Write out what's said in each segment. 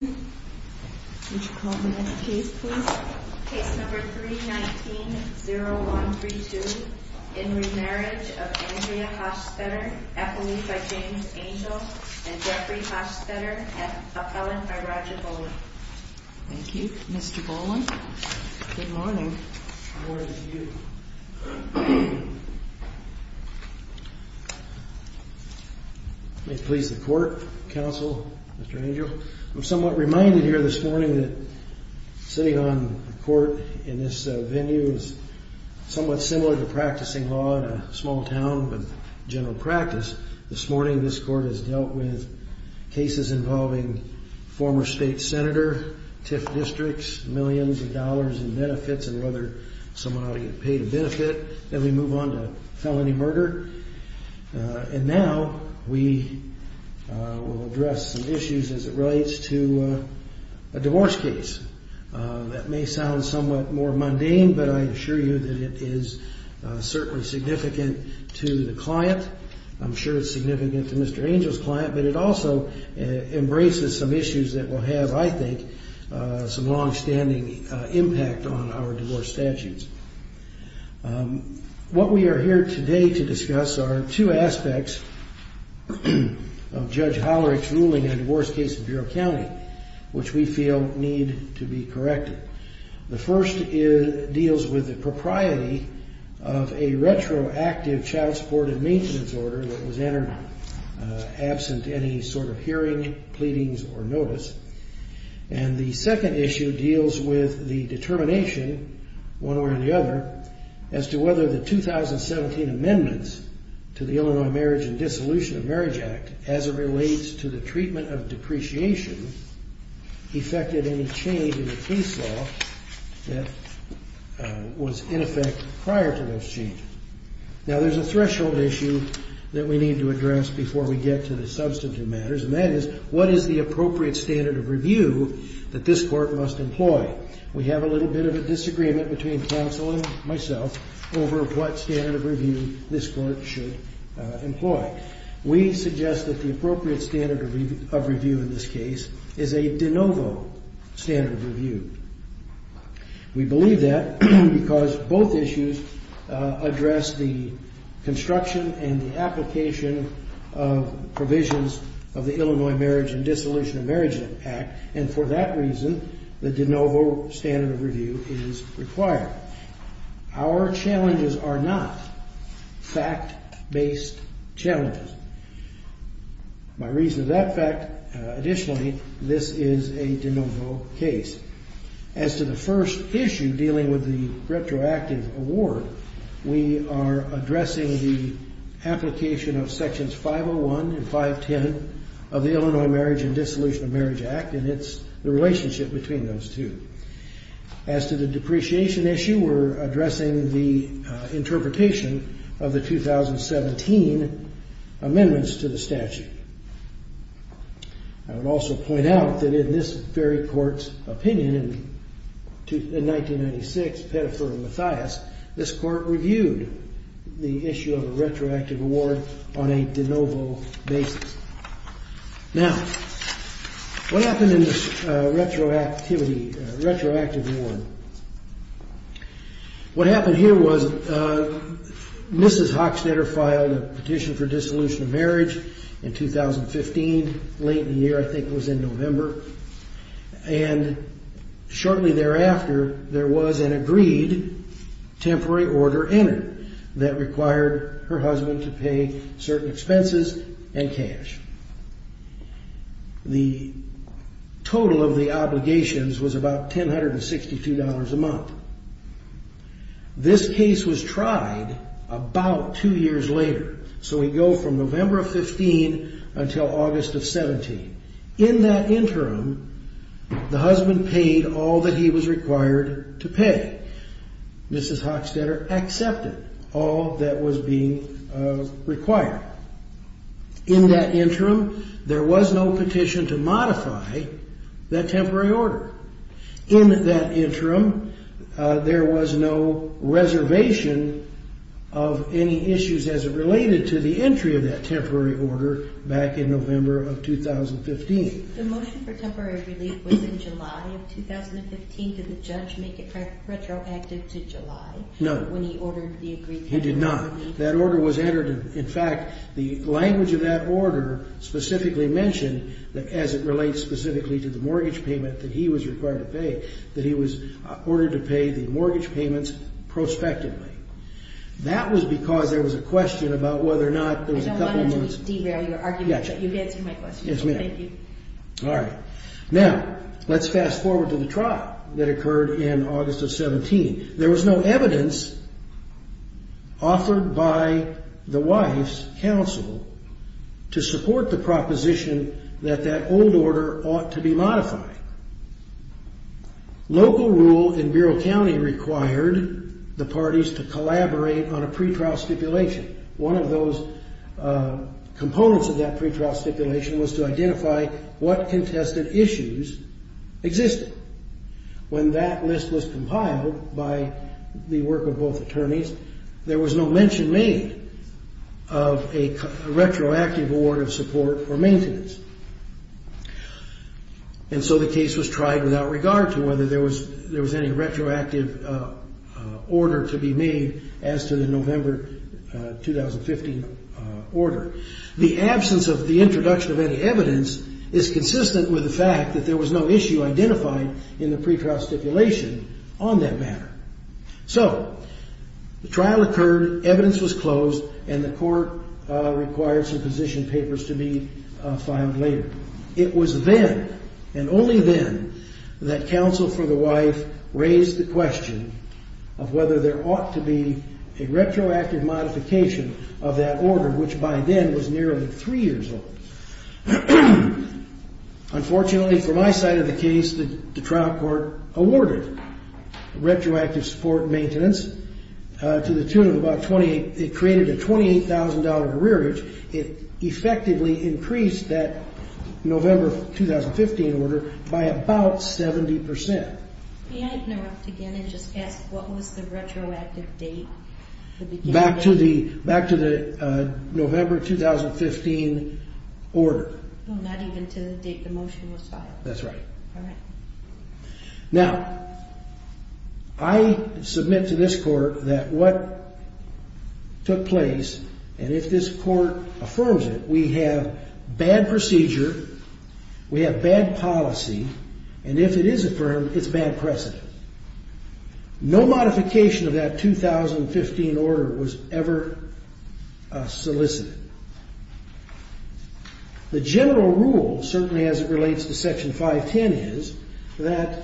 by James Angell and Jeffrey Hochstatter, appellant by Roger Boland. Thank you, Mr. Boland. Good morning. Good morning to you. May it please the Court, Counsel, Mr. Angell. I'm reminded here this morning that sitting on the Court in this venue is somewhat similar to practicing law in a small town, but general practice. This morning this Court has dealt with cases involving former state senator, TIF districts, millions of dollars in benefits and whether someone ought to get paid a benefit. Then we move on to felony murder, and now we will address some issues as it relates to a divorce case. That may sound somewhat more mundane, but I assure you that it is certainly significant to the client. I'm sure it's significant to Mr. Angell's client, but it also embraces some issues that will have, I think, some longstanding impact on our divorce statutes. What we are here today to discuss are two aspects of Judge Hollerich's ruling on a divorce case in Bureau County, which we feel need to be corrected. The first deals with the propriety of a retroactive child support and maintenance order that was entered absent any sort of hearing, pleadings, or notice. The second issue deals with the determination, one way or the other, as to whether the 2017 amendments to the Illinois Marriage and Dissolution of Marriage Act, as it relates to the treatment of depreciation, effected any change in the case law that was in effect prior to those changes. Now, there's a threshold issue that we need to address before we get to the substantive matters, and that is, what is the appropriate standard of review that this Court must employ? We have a little bit of a disagreement between counsel and myself over what standard of review this Court should employ. We suggest that the appropriate standard of review in this case is a de novo standard of review. We believe that because both issues address the construction and the application of provisions of the Illinois Marriage and Dissolution of Marriage Act, and for that reason, the de novo standard of review is required. Our challenges are not fact-based challenges. My reason for that fact, additionally, this is a de novo case. As to the first issue dealing with the retroactive award, we are addressing the application of Sections 501 and 510 of the Illinois Marriage and Dissolution of Marriage Act, and it's the relationship between those two. As to the depreciation issue, we're addressing the interpretation of the 2017 amendments to the statute. I would also point out that in this very Court's opinion in 1996, Pettifer and Mathias, this Court reviewed the issue of a retroactive award on a de novo basis. Now, what happened in this retroactive award? What happened here was Mrs. Hochstetter filed a petition for dissolution of marriage in 2015, late in the year, I think it was in November, and shortly thereafter, there was an agreed temporary order entered that required her husband to pay certain expenses and cash. The total of the obligations was about $1,062 a month. This case was tried about two years later, so we go from November of 15 until August of 17. In that interim, the husband paid all that he was required to pay. Mrs. Hochstetter accepted all that was being required. In that interim, there was no petition to modify that temporary order. In that interim, there was no reservation of any issues as it related to the entry of that temporary order back in November of 2015. The motion for temporary relief was in July of 2015. Did the judge make it retroactive to July? No. When he ordered the agreed temporary order? He did not. That order was entered. In fact, the language of that order specifically mentioned, as it relates specifically to the mortgage payment that he was required to pay, that he was ordered to pay the mortgage payments prospectively. That was because there was a question about whether or not there was a couple months... I don't want to derail your argument, but you've answered my question. Yes, ma'am. Thank you. All right. Now, let's fast forward to the trial that occurred in August of 17. There was no evidence offered by the wife's counsel to support the proposition that that old order ought to be modified. Local rule in Bureau County required the parties to collaborate on a pretrial stipulation. One of those components of that pretrial stipulation was to identify what contested issues existed. When that list was compiled by the work of both attorneys, there was no mention made of a retroactive order of support or maintenance. And so the case was tried without regard to whether there was any retroactive order to be made as to the November 2015 order. The absence of the introduction of any evidence is consistent with the fact that there was no issue identified in the pretrial stipulation on that matter. So the trial occurred, evidence was closed, and the court required some position papers to be filed later. It was then and only then that counsel for the wife raised the question of whether there ought to be a retroactive modification of that order, which by then was nearly three years old. Unfortunately, from my side of the case, the trial court awarded retroactive support and maintenance to the tune of about $28,000. It effectively increased that November 2015 order by about 70 percent. May I interrupt again and just ask what was the retroactive date? Back to the November 2015 order. Not even to the date the motion was filed. That's right. All right. Now, I submit to this court that what took place, and if this court affirms it, we have bad procedure, we have bad policy, and if it is affirmed, it's bad precedent. No modification of that 2015 order was ever solicited. The general rule, certainly as it relates to Section 510, is that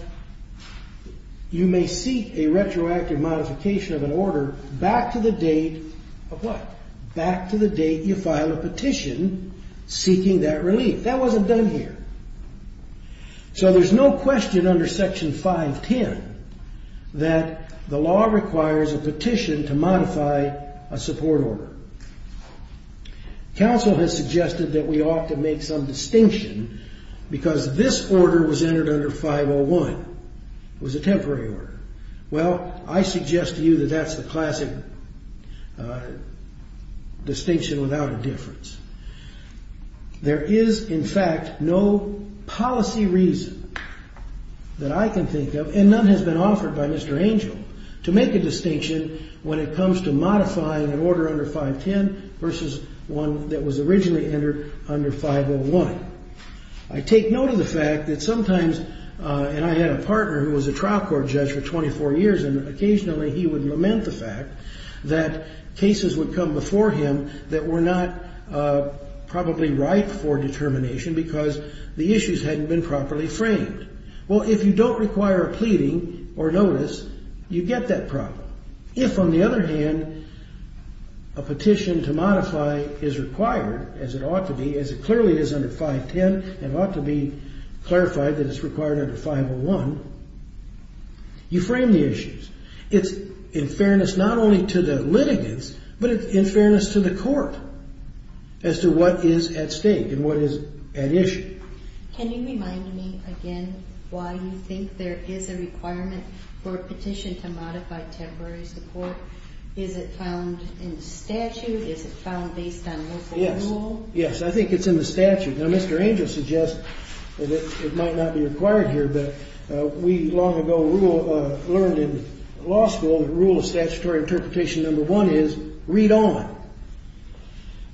you may seek a retroactive modification of an order back to the date of what? Back to the date you filed a petition seeking that relief. That wasn't done here. So there's no question under Section 510 that the law requires a petition to modify a support order. Counsel has suggested that we ought to make some distinction because this order was entered under 501. It was a temporary order. Well, I suggest to you that that's the classic distinction without a difference. There is, in fact, no policy reason that I can think of, and none has been offered by Mr. Angel, to make a distinction when it comes to modifying an order under 510 versus one that was originally entered under 501. I take note of the fact that sometimes, and I had a partner who was a trial court judge for 24 years, and occasionally he would lament the fact that cases would come before him that were not probably right for determination because the issues hadn't been properly framed. Well, if you don't require a pleading or notice, you get that problem. If, on the other hand, a petition to modify is required, as it ought to be, as it clearly is under 510 and ought to be clarified that it's required under 501, you frame the issues. It's in fairness not only to the litigants, but in fairness to the court as to what is at stake and what is at issue. Can you remind me again why you think there is a requirement for a petition to modify temporary support? Is it found in the statute? Is it found based on local rule? Yes. Yes, I think it's in the statute. Now, Mr. Angel suggests that it might not be required here, but we long ago learned in law school that rule of statutory interpretation number one is read on.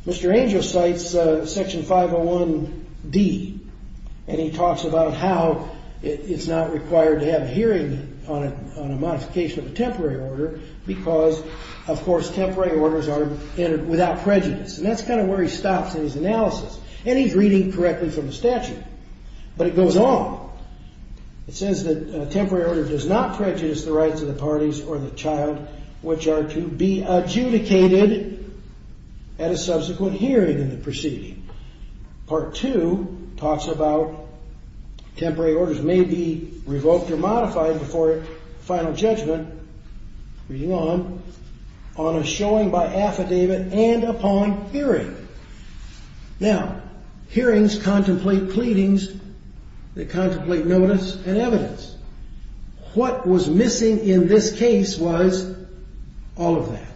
Mr. Angel cites section 501D, and he talks about how it's not required to have a hearing on a modification of a temporary order because, of course, temporary orders are without prejudice. And that's kind of where he stops in his analysis, and he's reading correctly from the statute. But it goes on. It says that a temporary order does not prejudice the rights of the parties or the child which are to be adjudicated at a subsequent hearing in the proceeding. Part two talks about temporary orders may be revoked or modified before final judgment, reading on, on a showing by affidavit and upon hearing. Now, hearings contemplate pleadings. They contemplate notice and evidence. What was missing in this case was all of that.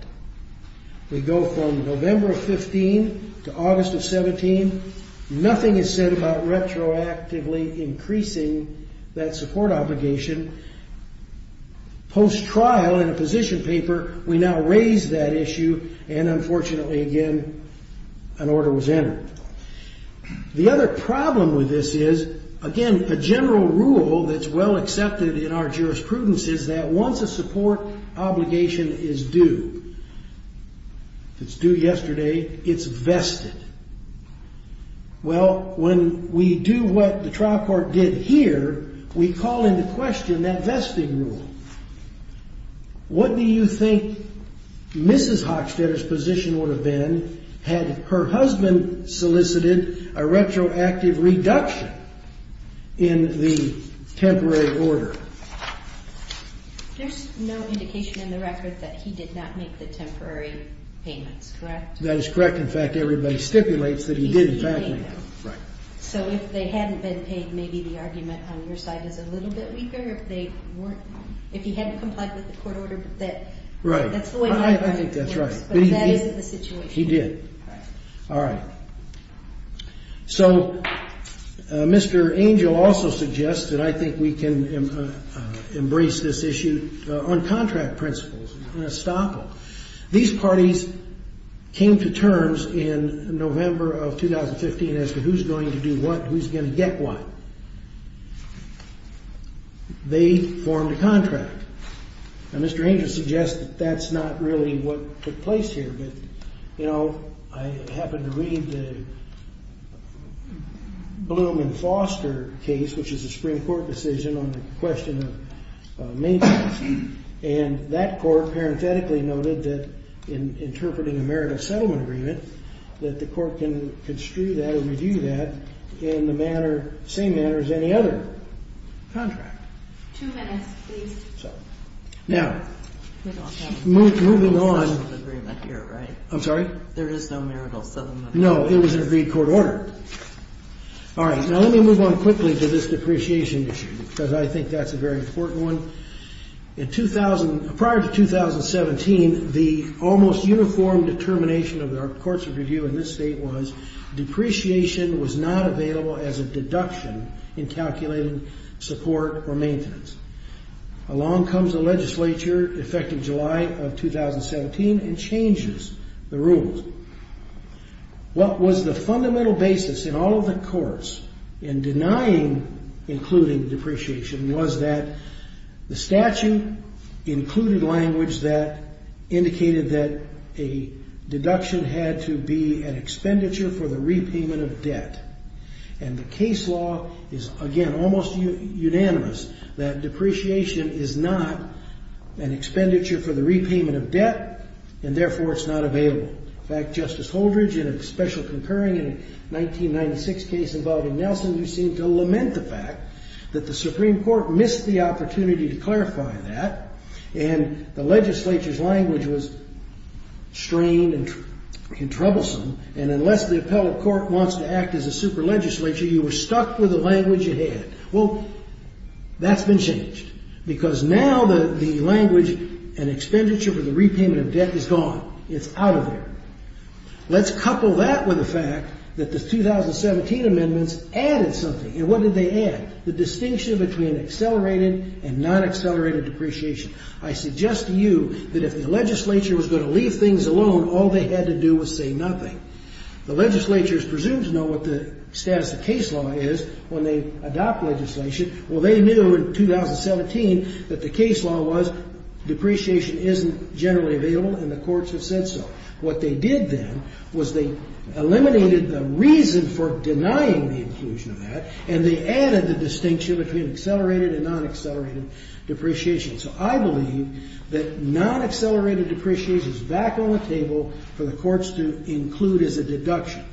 We go from November of 15 to August of 17. Nothing is said about retroactively increasing that support obligation. Post-trial in a position paper, we now raise that issue, and unfortunately, again, an order was entered. The other problem with this is, again, a general rule that's well accepted in our jurisprudence is that once a support obligation is due, if it's due yesterday, it's vested. Well, when we do what the trial court did here, we call into question that vesting rule. What do you think Mrs. Hochstetter's position would have been had her husband solicited a retroactive reduction in the temporary order? There's no indication in the record that he did not make the temporary payments, correct? That is correct. In fact, everybody stipulates that he did, in fact, make them. So if they hadn't been paid, maybe the argument on your side is a little bit weaker. If they weren't, if he hadn't complied with the court order, that's the way it works. I think that's right. But that isn't the situation. He did. All right. So Mr. Angel also suggested, I think we can embrace this issue on contract principles. I'm going to stop him. These parties came to terms in November of 2015 as to who's going to do what and who's going to get what. They formed a contract. Now, Mr. Angel suggests that that's not really what took place here. But, you know, I happened to read the Blumenfoster case, which is a Supreme Court decision on the question of maintenance. And that court parenthetically noted that in interpreting a marital settlement agreement, that the court can construe that or review that in the same manner as any other contract. Two minutes, please. Now, moving on. There is no marital settlement agreement here, right? I'm sorry? There is no marital settlement agreement. No, it was an agreed court order. All right. Now, let me move on quickly to this depreciation issue because I think that's a very important one. Prior to 2017, the almost uniform determination of the courts of review in this state was depreciation was not available as a deduction in calculating support or maintenance. Along comes the legislature, effective July of 2017, and changes the rules. What was the fundamental basis in all of the courts in denying including depreciation was that the statute included language that indicated that a deduction had to be an expenditure for the repayment of debt. And the case law is, again, almost unanimous that depreciation is not an expenditure for the repayment of debt, and therefore it's not available. In fact, Justice Holdridge, in a special comparing in a 1996 case involving Nelson, you seem to lament the fact that the Supreme Court missed the opportunity to clarify that, and the legislature's language was strained and troublesome, and unless the appellate court wants to act as a super legislature, you were stuck with the language you had. Well, that's been changed because now the language, an expenditure for the repayment of debt, is gone. It's out of there. Let's couple that with the fact that the 2017 amendments added something. And what did they add? The distinction between accelerated and non-accelerated depreciation. I suggest to you that if the legislature was going to leave things alone, all they had to do was say nothing. The legislature is presumed to know what the status of case law is when they adopt legislation. Well, they knew in 2017 that the case law was depreciation isn't generally available, and the courts have said so. What they did then was they eliminated the reason for denying the inclusion of that, and they added the distinction between accelerated and non-accelerated depreciation. So I believe that non-accelerated depreciation is back on the table for the courts to include as a deduction.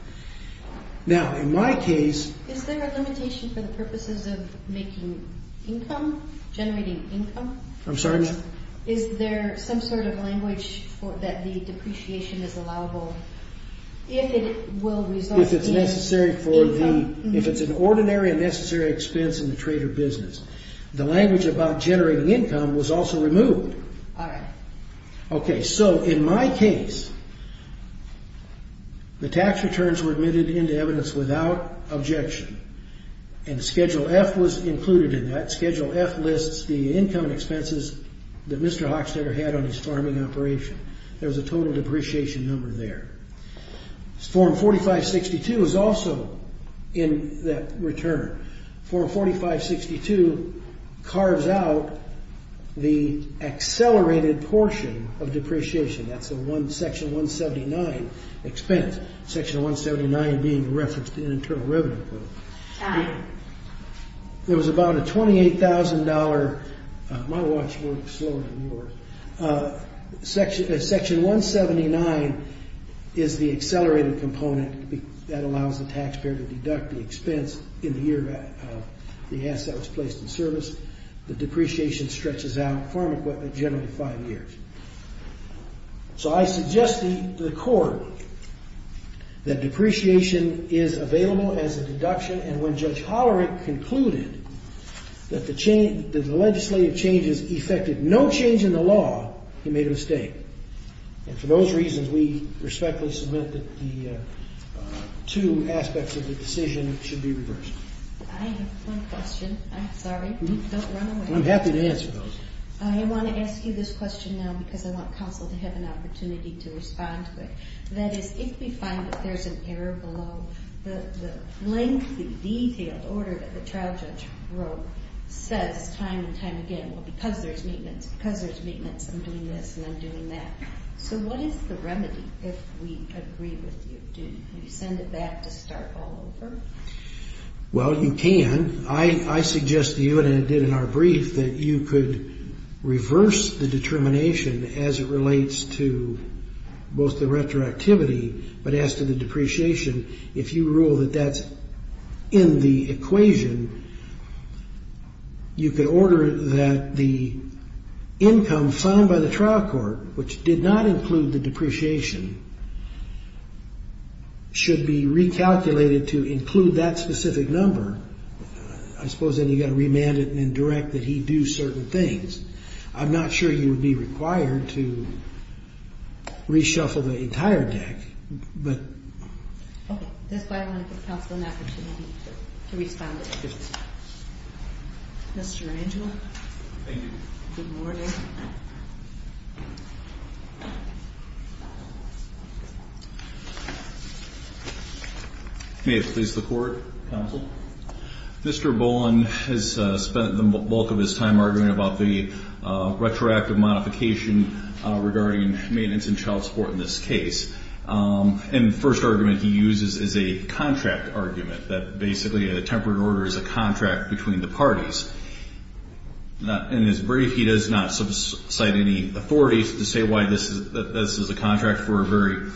Now, in my case... Is there a limitation for the purposes of making income, generating income? I'm sorry, ma'am? Is there some sort of language that the depreciation is allowable if it will result in income? If it's necessary for the... if it's an ordinary and necessary expense in the trade or business. The language about generating income was also removed. Aye. Okay, so in my case, the tax returns were admitted into evidence without objection, and Schedule F was included in that. Schedule F lists the income and expenses that Mr. Hochstetter had on his farming operation. There was a total depreciation number there. Form 4562 is also in that return. Form 4562 carves out the accelerated portion of depreciation. That's a Section 179 expense, Section 179 being referenced in Internal Revenue Code. Aye. There was about a $28,000... My watch works slower than yours. Section 179 is the accelerated component. That allows the taxpayer to deduct the expense in the year that the asset was placed in service. The depreciation stretches out generally five years. So I suggest to the Court that depreciation is available as a deduction, and when Judge Hollerick concluded that the legislative changes effected no change in the law, he made a mistake. And for those reasons, we respectfully submit that the two aspects of the decision should be reversed. I have one question. I'm sorry. Don't run away. I'm happy to answer those. I want to ask you this question now because I want counsel to have an opportunity to respond to it. That is, if we find that there's an error below, the lengthy, detailed order that the trial judge wrote says time and time again, well, because there's maintenance, because there's maintenance, I'm doing this and I'm doing that. So what is the remedy if we agree with you? Can you send it back to start all over? Well, you can. I suggest to you, and I did in our brief, that you could reverse the determination as it relates to both the retroactivity, but as to the depreciation, if you rule that that's in the equation, you could order that the income signed by the trial court, which did not include the depreciation, should be recalculated to include that specific number. I suppose then you've got to remand it and then direct that he do certain things. I'm not sure you would be required to reshuffle the entire deck, but. Okay. That's why I want to give counsel an opportunity to respond to it. Mr. Rangel. Thank you. Good morning. May it please the Court, counsel. Mr. Boland has spent the bulk of his time arguing about the retroactive modification regarding maintenance and child support in this case. And the first argument he uses is a contract argument, that basically a tempered order is a contract between the parties. In his brief, he does not cite any authorities to say why this is a contract for a very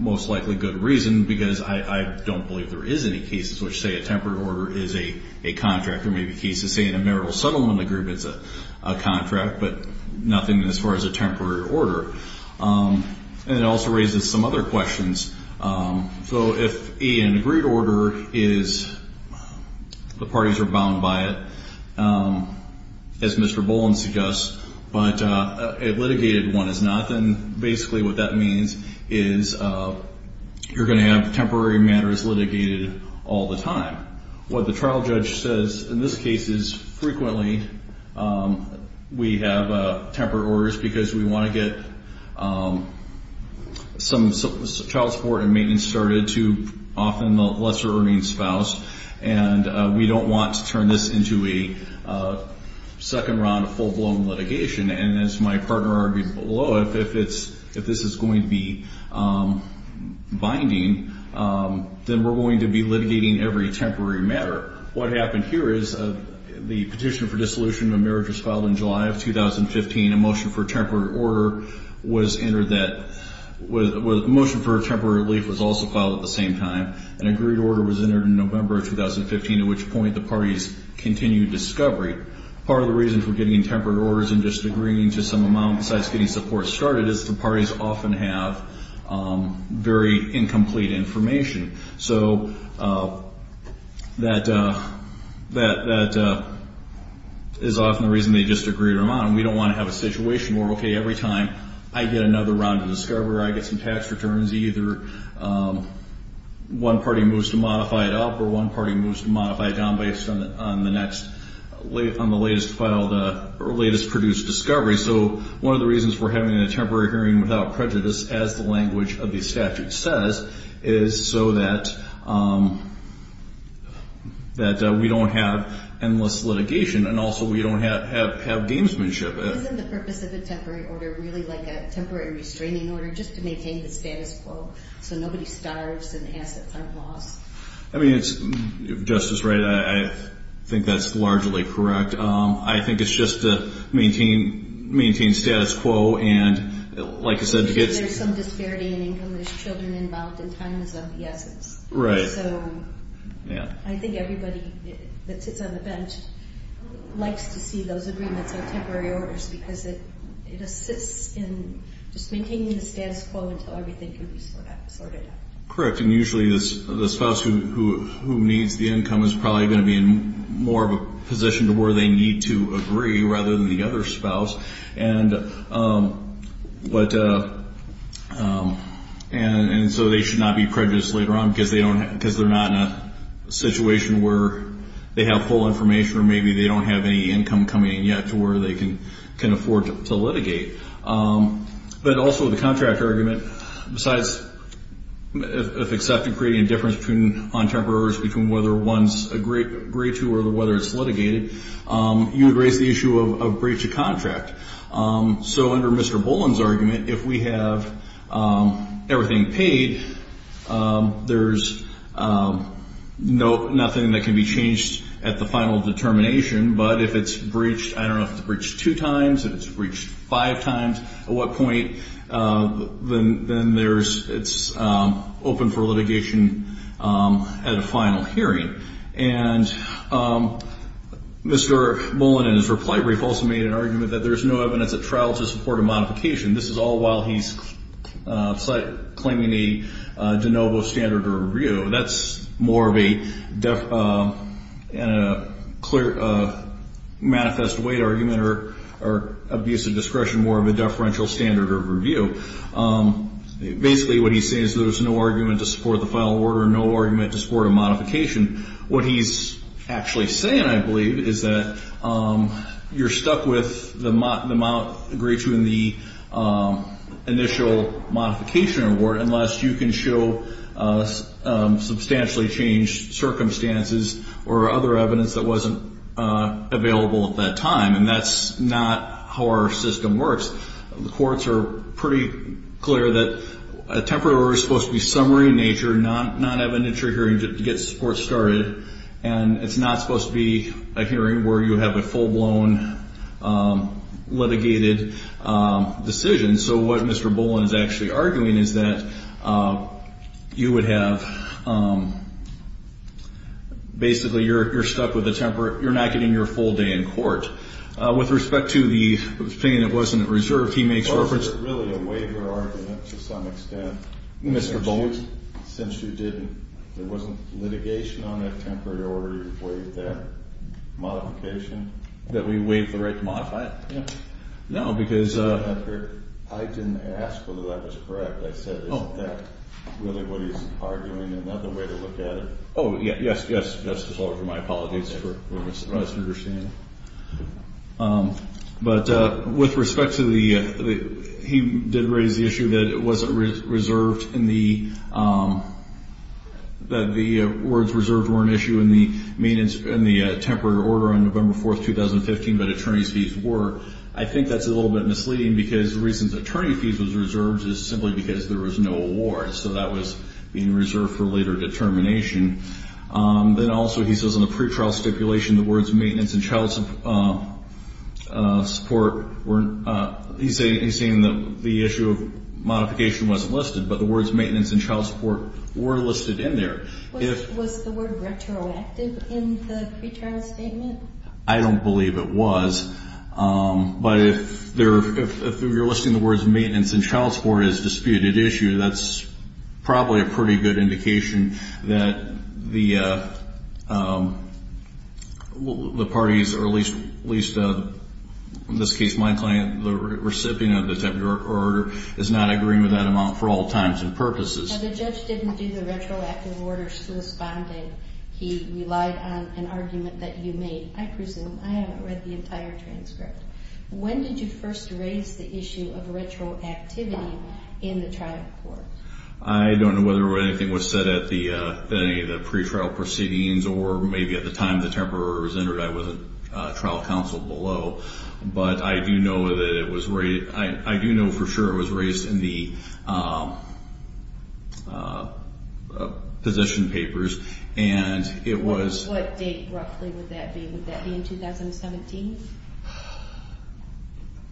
most likely good reason, because I don't believe there is any cases which say a tempered order is a contract, or maybe cases saying a marital settlement agreement is a contract, but nothing as far as a tempered order. And it also raises some other questions. So if A, an agreed order is the parties are bound by it, as Mr. Boland suggests, but a litigated one is not, then basically what that means is you're going to have temporary matters litigated all the time. What the trial judge says in this case is frequently we have tempered orders because we want to get some child support and maintenance started to often the lesser earning spouse. And we don't want to turn this into a second round of full-blown litigation. And as my partner argued below, if this is going to be binding, then we're going to be litigating every temporary matter. What happened here is the petition for dissolution of marriage was filed in July of 2015. A motion for a temporary relief was also filed at the same time. An agreed order was entered in November of 2015, at which point the parties continued discovery. Part of the reason for getting tempered orders and just agreeing to some amount besides getting support started is the parties often have very incomplete information. So that is often the reason they just agree to amount. And we don't want to have a situation where, okay, every time I get another round of discovery or I get some tax returns, either one party moves to modify it up or one party moves to modify it down based on the latest produced discovery. So one of the reasons for having a temporary hearing without prejudice, as the language of the statute says, is so that we don't have endless litigation and also we don't have gamesmanship. Isn't the purpose of a temporary order really like a temporary restraining order, just to maintain the status quo so nobody starves and assets aren't lost? I mean, Justice Wright, I think that's largely correct. I think it's just to maintain status quo and, like I said, to get... There's some disparity in income, there's children involved, and time is of the essence. So I think everybody that sits on the bench likes to see those agreements as temporary orders because it assists in just maintaining the status quo until everything can be sorted out. Correct, and usually the spouse who needs the income is probably going to be in more of a position to where they need to agree rather than the other spouse. And so they should not be prejudiced later on because they're not in a situation where they have full information or maybe they don't have any income coming in yet to where they can afford to litigate. But also the contract argument, besides if accepted, creating a difference on temporary orders between whether one's agreed to or whether it's litigated, you would raise the issue of breach of contract. So under Mr. Boland's argument, if we have everything paid, there's nothing that can be changed at the final determination, but if it's breached, I don't know if it's breached two times, if it's breached five times, at what point, then it's open for litigation at a final hearing. And Mr. Boland in his reply brief also made an argument that there's no evidence at trial to support a modification. This is all while he's claiming a de novo standard of review. That's more of a manifest weight argument or abuse of discretion, more of a deferential standard of review. Basically what he's saying is there's no argument to support the final order, no argument to support a modification. What he's actually saying, I believe, is that you're stuck with the amount agreed to in the initial modification award unless you can show substantially changed circumstances or other evidence that wasn't available at that time. And that's not how our system works. The courts are pretty clear that a temporary order is supposed to be summary in nature, non-evidentiary hearing to get support started, and it's not supposed to be a hearing where you have a full-blown litigated decision. So what Mr. Boland is actually arguing is that you would have basically you're stuck with a temporary, you're not getting your full day in court. With respect to the thing that wasn't reserved, he makes reference to... Well, is it really a waiver argument to some extent? Mr. Boland? Since you didn't, there wasn't litigation on that temporary order you waived that modification? That we waived the right to modify it? No. I didn't ask whether that was correct. I said, isn't that really what he's arguing and not the way to look at it? Oh, yes, yes, Justice Holder, my apologies. But with respect to the... He did raise the issue that it wasn't reserved in the... I think that's a little bit misleading because the reason attorney fees was reserved is simply because there was no award, so that was being reserved for later determination. Then also he says in the pretrial stipulation the words maintenance and child support weren't... He's saying that the issue of modification wasn't listed, but the words maintenance and child support were listed in there. Was the word retroactive in the pretrial statement? I don't believe it was, but if you're listing the words maintenance and child support as a disputed issue, that's probably a pretty good indication that the parties, or at least in this case my client, the recipient of the temporary order, is not agreeing with that amount for all times and purposes. The judge didn't do the retroactive order corresponding. He relied on an argument that you made. I presume. I haven't read the entire transcript. When did you first raise the issue of retroactivity in the trial court? I don't know whether anything was said at any of the pretrial proceedings or maybe at the time the temporary order was entered. I wasn't trial counsel below, but I do know that it was... I do know for sure it was raised in the position papers, and it was... What date roughly would that be? Would that be in 2017?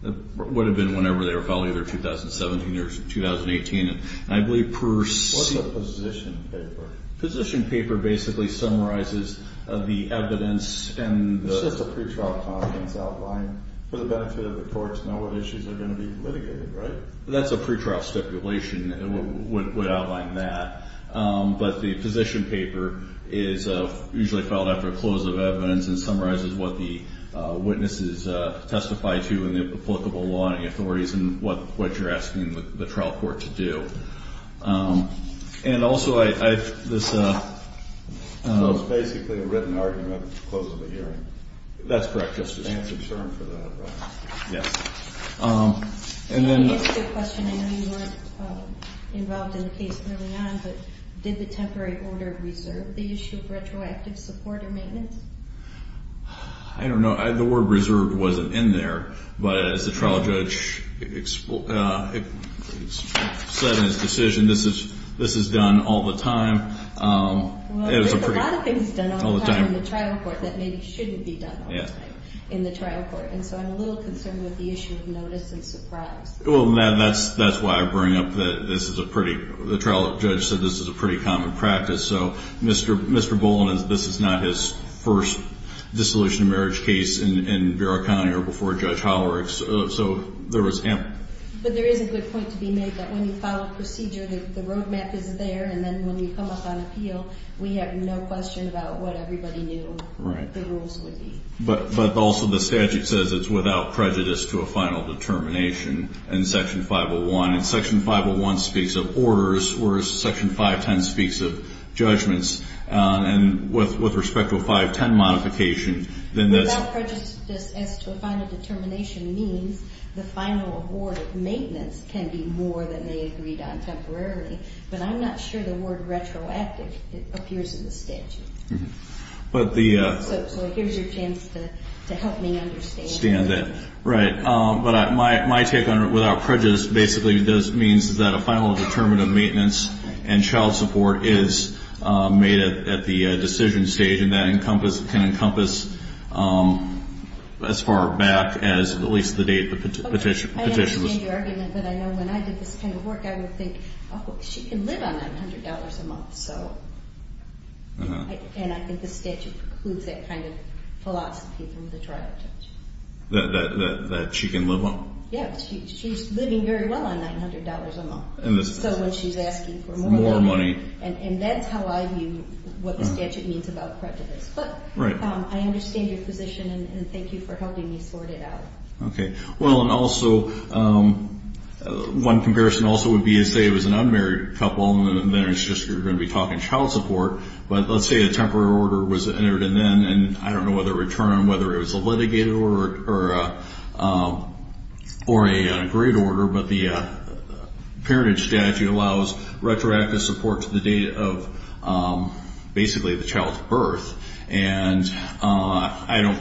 It would have been whenever they were following their 2017 or 2018, and I believe per... What's a position paper? Position paper basically summarizes the evidence and the... It's just a pretrial comment that's outlined for the benefit of the court to know what issues are going to be litigated, right? That's a pretrial stipulation would outline that, but the position paper is usually filed after a close of evidence and summarizes what the witnesses testify to in the applicable law and the authorities and what you're asking the trial court to do. And also I... So it's basically a written argument at the close of the hearing? That's correct, Justice. I know you weren't involved in the case early on, but did the temporary order reserve the issue of retroactive support or maintenance? I don't know. The word reserved wasn't in there, but as the trial judge said in his decision, this is done all the time. Well, there's a lot of things done all the time in the trial court that maybe shouldn't be done all the time in the trial court, and so I'm a little concerned with the issue of notice and surprise. Well, that's why I bring up that this is a pretty... The trial judge said this is a pretty common practice, so Mr. Boland, this is not his first dissolution of marriage case in Vera County or before Judge Hollerick, so there was ample... But there is a good point to be made that when you file a procedure, the road map is there, and then when you come up on appeal, we have no question about what everybody knew the rules would be. But also the statute says it's without prejudice to a final determination in Section 501, and Section 501 speaks of orders, whereas Section 510 speaks of judgments, and with respect to a 510 modification, then that's... Without prejudice as to a final determination means the final award of maintenance can be more than they agreed on temporarily, but I'm not sure the word retroactive appears in the statute. So here's your chance to help me understand. Right. But my take on it, without prejudice, basically this means that a final determination of maintenance and child support is made at the decision stage, and that can encompass as far back as at least the date the petition was... I understand your argument, but I know when I did this kind of work, I would think, oh, she can live on $900 a month, so... And I think the statute precludes that kind of philosophy from the trial judge. That she can live on... Yeah, she's living very well on $900 a month, so when she's asking for more money, and that's how I view what the statute means about prejudice. But I understand your position, and thank you for helping me sort it out. Okay. Well, and also, one comparison also would be to say it was an unmarried couple, and then it's just you're going to be talking child support, but let's say a temporary order was entered and then, and I don't know whether it returned, whether it was a litigated order or an agreed order, but the parentage statute allows retroactive support to the date of basically the child's birth, and I don't...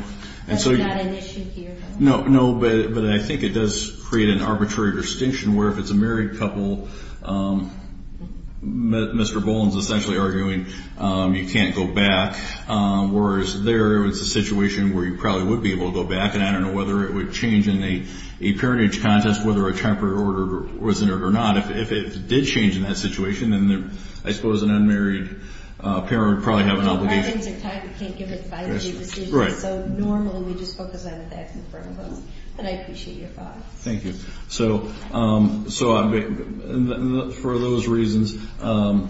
No, but I think it does create an arbitrary distinction where if it's a married couple, Mr. Boland's essentially arguing you can't go back, whereas there was a situation where you probably would be able to go back, and I don't know whether it would change in a parentage contest whether a temporary order was entered or not. If it did change in that situation, then I suppose an unmarried parent would probably have an obligation. Well, our names are tied. We can't give it by the date of decision. Right. So normally we just focus on the facts in front of us, but I appreciate your thoughts. Thank you. So for those reasons, I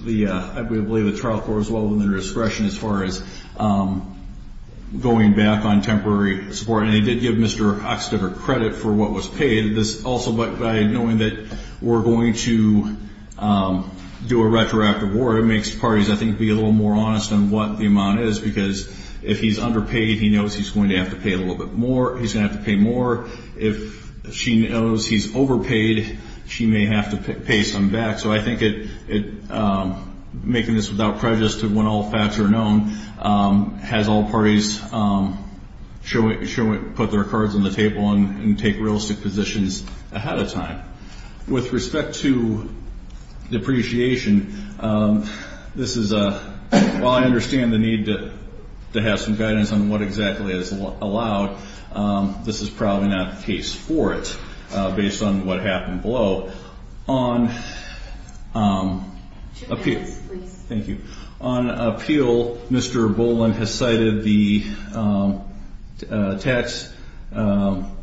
believe the trial court was well within their discretion as far as going back on temporary support, and they did give Mr. Oxtober credit for what was paid. This also by knowing that we're going to do a retroactive order makes parties, I think, be a little more honest on what the amount is because if he's underpaid, he knows he's going to have to pay a little bit more. He's going to have to pay more. If she knows he's overpaid, she may have to pay some back. So I think making this without prejudice to when all facts are known has all parties put their cards on the table and take realistic positions ahead of time. With respect to depreciation, while I understand the need to have some guidance on what exactly is allowed, this is probably not the case for it based on what happened below. On appeal, Mr. Boland has cited the tax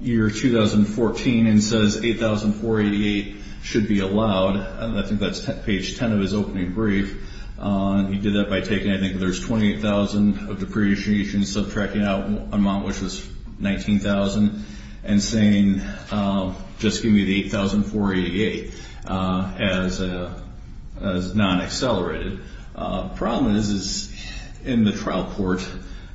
year 2014 and says $8,488 should be allowed. I think that's page 10 of his opening brief. He did that by taking, I think, there's $28,000 of depreciation subtracting out an amount which was $19,000 and saying just give me the $8,488 as non-accelerated. The problem is in the trial court,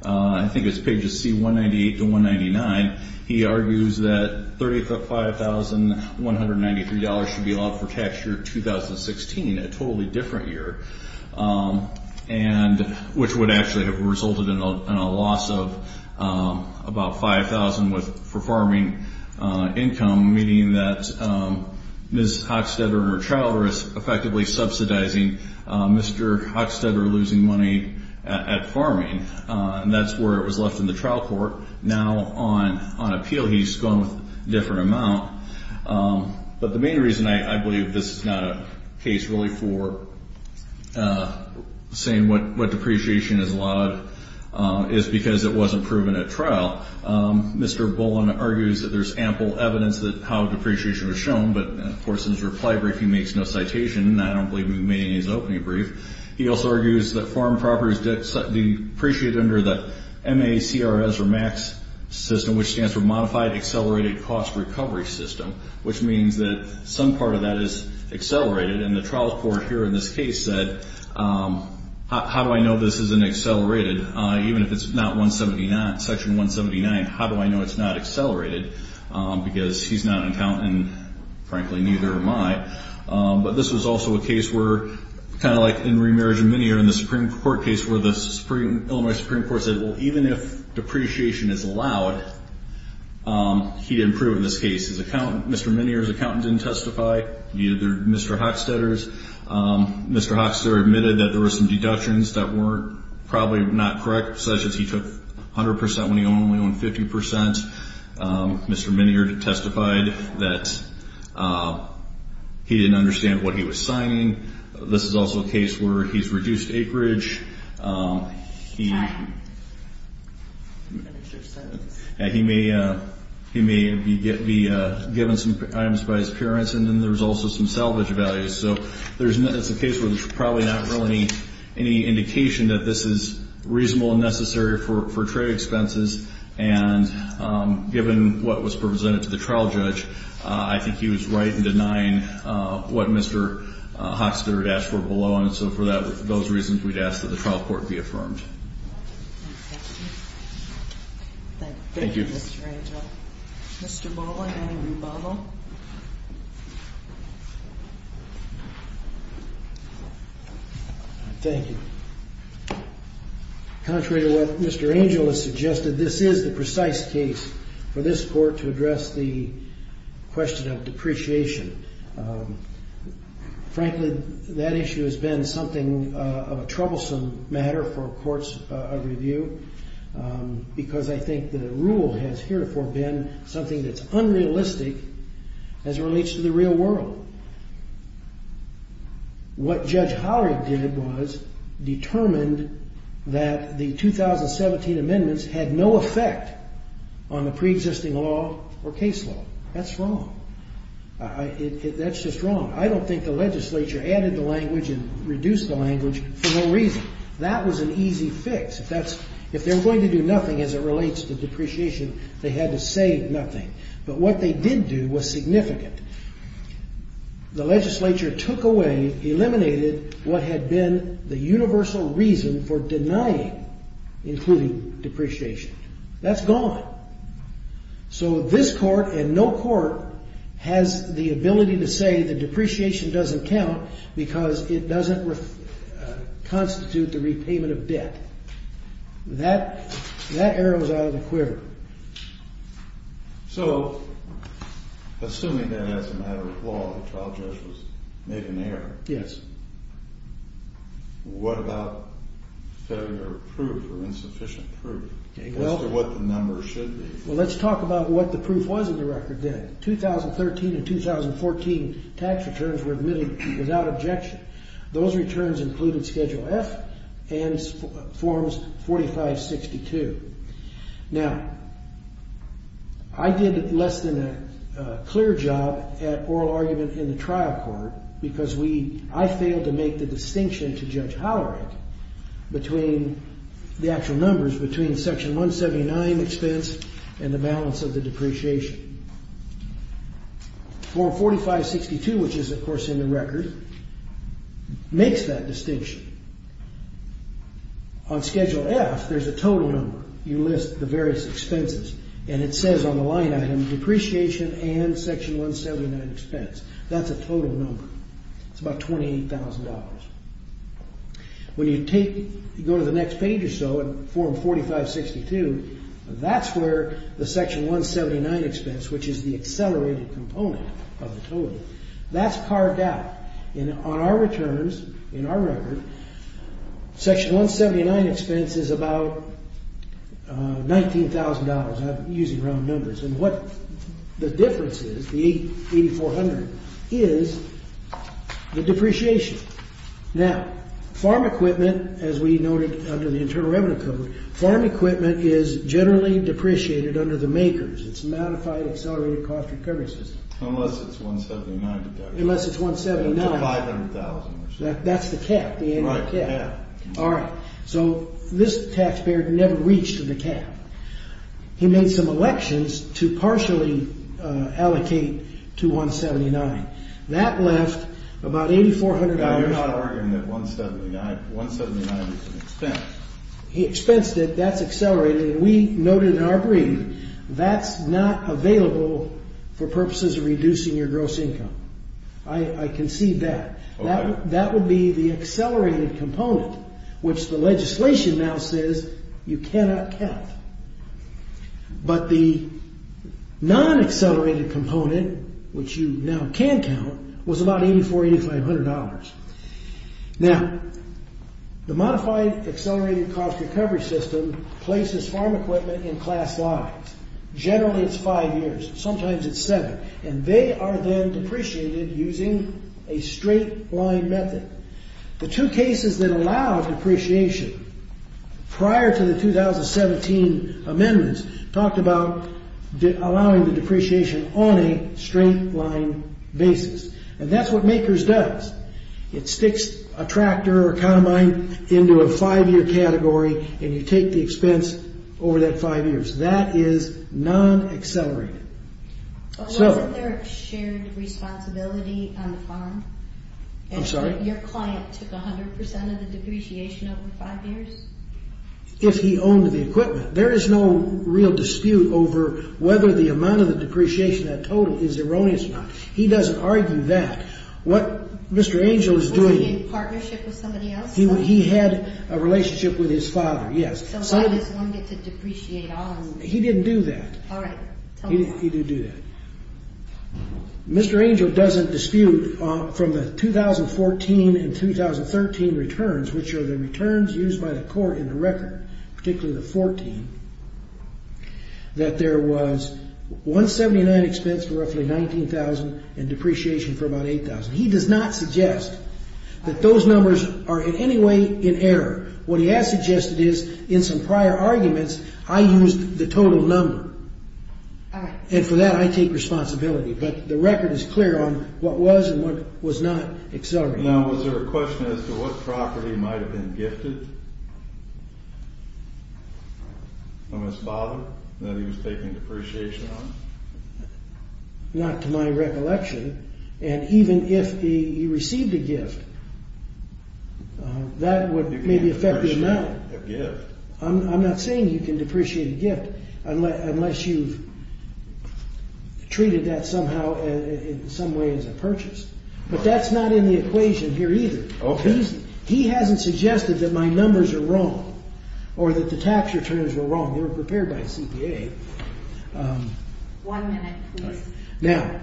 I think it's pages C198 to 199, he argues that $35,193 should be allowed for tax year 2016, a totally different year, which would actually have resulted in a loss of about $5,000 for farming income, meaning that Ms. Hochstetter in her trial is effectively subsidizing Mr. Hochstetter losing money at farming. And that's where it was left in the trial court. Now on appeal, he's going with a different amount. But the main reason I believe this is not a case really for saying what depreciation is allowed is because it wasn't proven at trial. Mr. Boland argues that there's ample evidence that how depreciation was shown, but of course in his reply brief he makes no citation and I don't believe he made any of his opening brief. He also argues that farm properties depreciate under the MACRS or MAX system, which stands for Modified Accelerated Cost Recovery System, which means that some part of that is accelerated. And the trial court here in this case said how do I know this isn't accelerated even if it's not 179, section 179, how do I know it's not accelerated because he's not an accountant and frankly neither am I. But this was also a case where, kind of like in Remarriage and Minear in the Supreme Court case where the Supreme Illinois Supreme Court said, well even if depreciation is allowed, he didn't prove it in this case. Mr. Minear's accountant didn't testify, neither did Mr. Hochstetter's. Mr. Hochstetter admitted that there were some deductions that were probably not correct, such as he took 100% when he only owned 50%. Mr. Minear testified that he didn't understand what he was signing. This is also a case where he's reduced acreage. He may be given some items by his parents and then there's also some salvage values. So it's a case where there's probably not really any indication that this is reasonable and necessary for trade expenses and given what was presented to the trial judge, I think he was right in denying what Mr. Hochstetter had asked for below and so for those reasons we'd ask that the trial court be affirmed. Thank you. Thank you. Thank you. Contrary to what Mr. Angel has suggested, this is the precise case for this Court to address the question of depreciation. Frankly, that issue has been something of a troublesome matter for courts of review because I think the rule has herefore been something that's unrealistic as it relates to the real world. What Judge Howard did was determined that the 2017 amendments had no effect on the pre-existing law or case law. That's wrong. That's just wrong. I don't think the legislature added the language and reduced the language for no reason. That was an easy fix. If they were going to do nothing as it relates to depreciation, they had to say nothing. But what they did do was significant. The legislature took away, eliminated what had been the universal reason for denying including depreciation. That's gone. So this Court and no court has the ability to say the depreciation doesn't count because it doesn't constitute the repayment of debt. That arrow is out of the quiver. So, assuming that as a matter of law the trial judge made an error, what about failure of proof or insufficient proof as to what the number should be? Well, let's talk about what the proof was in the record then. 2013 and 2014 tax returns were admitted without objection. Those returns included Schedule F and Forms 4562. Now, I did less than a clear job at oral argument in the trial court because I failed to make the distinction to Judge Howard between the actual numbers between Section 179 expense and the balance of the depreciation. Form 4562, which is of course in the record, makes that distinction. On Schedule F there's a total number. You list the various expenses and it says on the line item depreciation and Section 179 expense. That's a total number. It's about $28,000. When you go to the next page or so in Form 4562, that's where the Section 179 expense, which is the accelerated component of the total, that's carved out. On our returns, in our record, Section 179 expense is about $19,000. I'm using wrong numbers. What the difference is, the $8,400, is the depreciation. Now, farm equipment, as we noted under the Internal Revenue Code, farm equipment is generally depreciated under the MAKERS, it's Modified Accelerated Cost Recovery System. Unless it's $179,000. Unless it's $179,000. It's $500,000. That's the cap, the annual cap. All right. So this taxpayer never reached the cap. He made some elections to partially allocate to $179,000. That left about $8,400. Now, you're not arguing that $179,000 is an expense. He expensed it. That's accelerated. And we noted in our reading, that's not available for purposes of reducing your gross income. I can see that. That would be the accelerated component, which the legislation now says you cannot count. But the non-accelerated component, which you now can count, was about $8,400, $8,500. Now, the Modified Accelerated Cost Recovery System places farm equipment in class lines. Generally, it's five years. Sometimes it's seven. And they are then depreciated using a straight line method. The two cases that allow depreciation prior to the 2017 amendments talked about allowing the depreciation on a straight line basis. And that's what MAKERS does. It sticks a tractor or combine into a five-year category, and you take the expense over that five years. That is non-accelerated. But wasn't there a shared responsibility on the farm? I'm sorry? Your client took 100% of the depreciation over five years? If he owned the equipment. There is no real dispute over whether the amount of the depreciation, that total, is erroneous or not. He doesn't He had a relationship with his father, yes. He didn't do that. He didn't do that. Mr. Angel doesn't dispute from the 2014 and 2013 returns, which are the returns used by the court in the record, particularly the 14, that there was $179,000 expense for roughly $19,000 and depreciation for about $8,000. He does not suggest that those numbers are in any way in error. What he has suggested is, in some prior arguments, I used the total number. And for that I take responsibility. But the record is clear on what was and what was not accelerated. Now was there a question as to what property might have been gifted from his father that he was taking depreciation on? Not to my recollection. And even if he received a gift, that would maybe affect the amount. I'm not saying you can depreciate a gift unless you've treated that somehow in some way as a purchase. But that's not in the equation here either. He hasn't suggested that my numbers are wrong or that the tax returns were wrong. They were prepared by CPA. Now,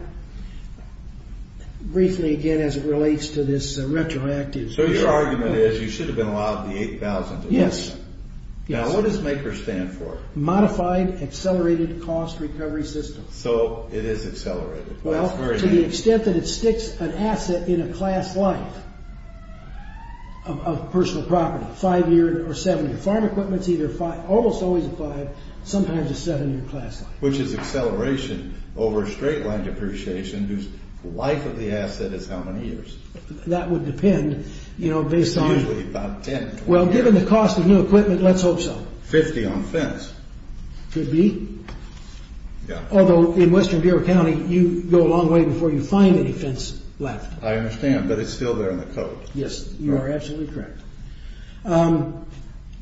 briefly again as it relates to this retroactive... So your argument is you should have been allowed the $8,000? Yes. Now what does MACR stand for? Modified Accelerated Cost Recovery System. So it is accelerated. Well, to the extent that it sticks an asset in a class life of personal property, 5-year or 7-year. Farm equipment is almost always a 5, sometimes a 7-year class life. Which is acceleration over a straight line depreciation whose life of the asset is how many years? That would depend based on... It's usually about 10. Well, given the cost of new equipment, let's hope so. 50 on fence. Could be. Although in Western Bureau County, you go a long way before you find any fence left. I understand, but it's still there in the code. Yes, you are absolutely correct.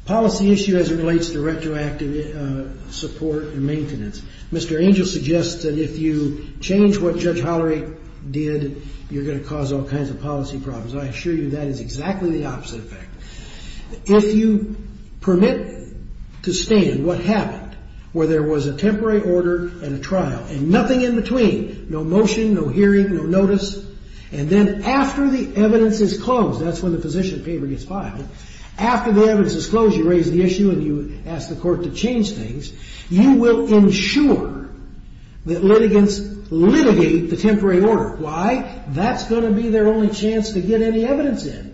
Policy issue as it relates to retroactive support and maintenance. Mr. Angel suggests that if you change what Judge Hollery did, you're going to cause all kinds of policy problems. I assure you that is exactly the opposite effect. If you permit to stand what happened, where there was a temporary order and a trial and nothing in between, no motion, no hearing, no notice, and then after the evidence is closed, that's when the physician paper gets filed. After the evidence is closed, you raise the issue and you ask the court to change things. You will ensure that litigants litigate the temporary order. Why? That's going to be their only chance to get any evidence in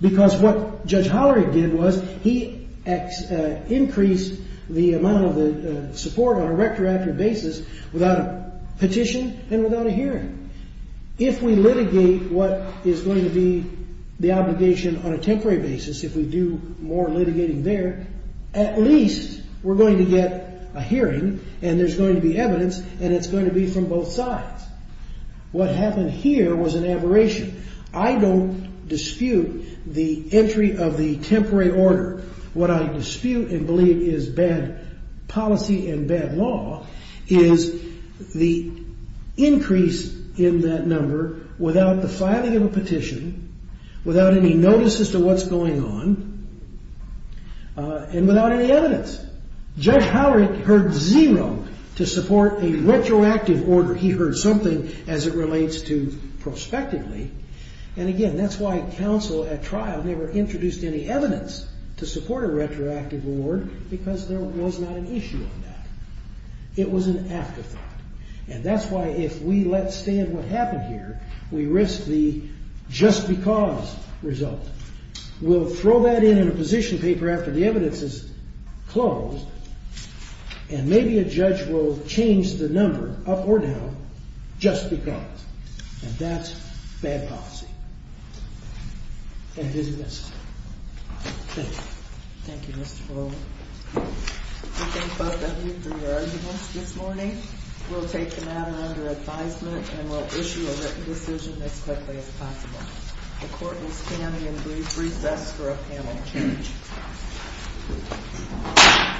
because what Judge Hollery did was he increased the amount of support on a retroactive basis without a petition and without a hearing. If we litigate what is going to be the obligation on a temporary basis, if we do more litigating there, at least we're going to get a hearing and there's going to be evidence and it's going to be from both sides. What happened here was an aberration. I don't dispute the entry of the temporary order. What I dispute and believe is bad policy and bad law is the increase in that number without the filing of a petition, without any notices to what's going on, and without any evidence. Judge Hollery heard zero to support a retroactive order. He heard something as it relates to prospectively. And again, that's why counsel at trial never introduced any evidence to support a retroactive order because there was not an issue on that. It was an afterthought. And that's why if we let stand what happened here, we risk the just because result. We'll throw that in in a position paper after the evidence is closed and maybe a judge will change the number up or down, just because. And that's bad policy. And it isn't necessary. Thank you. Thank you, Mr. Fuller. We thank both of you for your arguments this morning. We'll take the matter under advisement and we'll issue a written decision as quickly as possible. The court will stand and brief us for a panel change.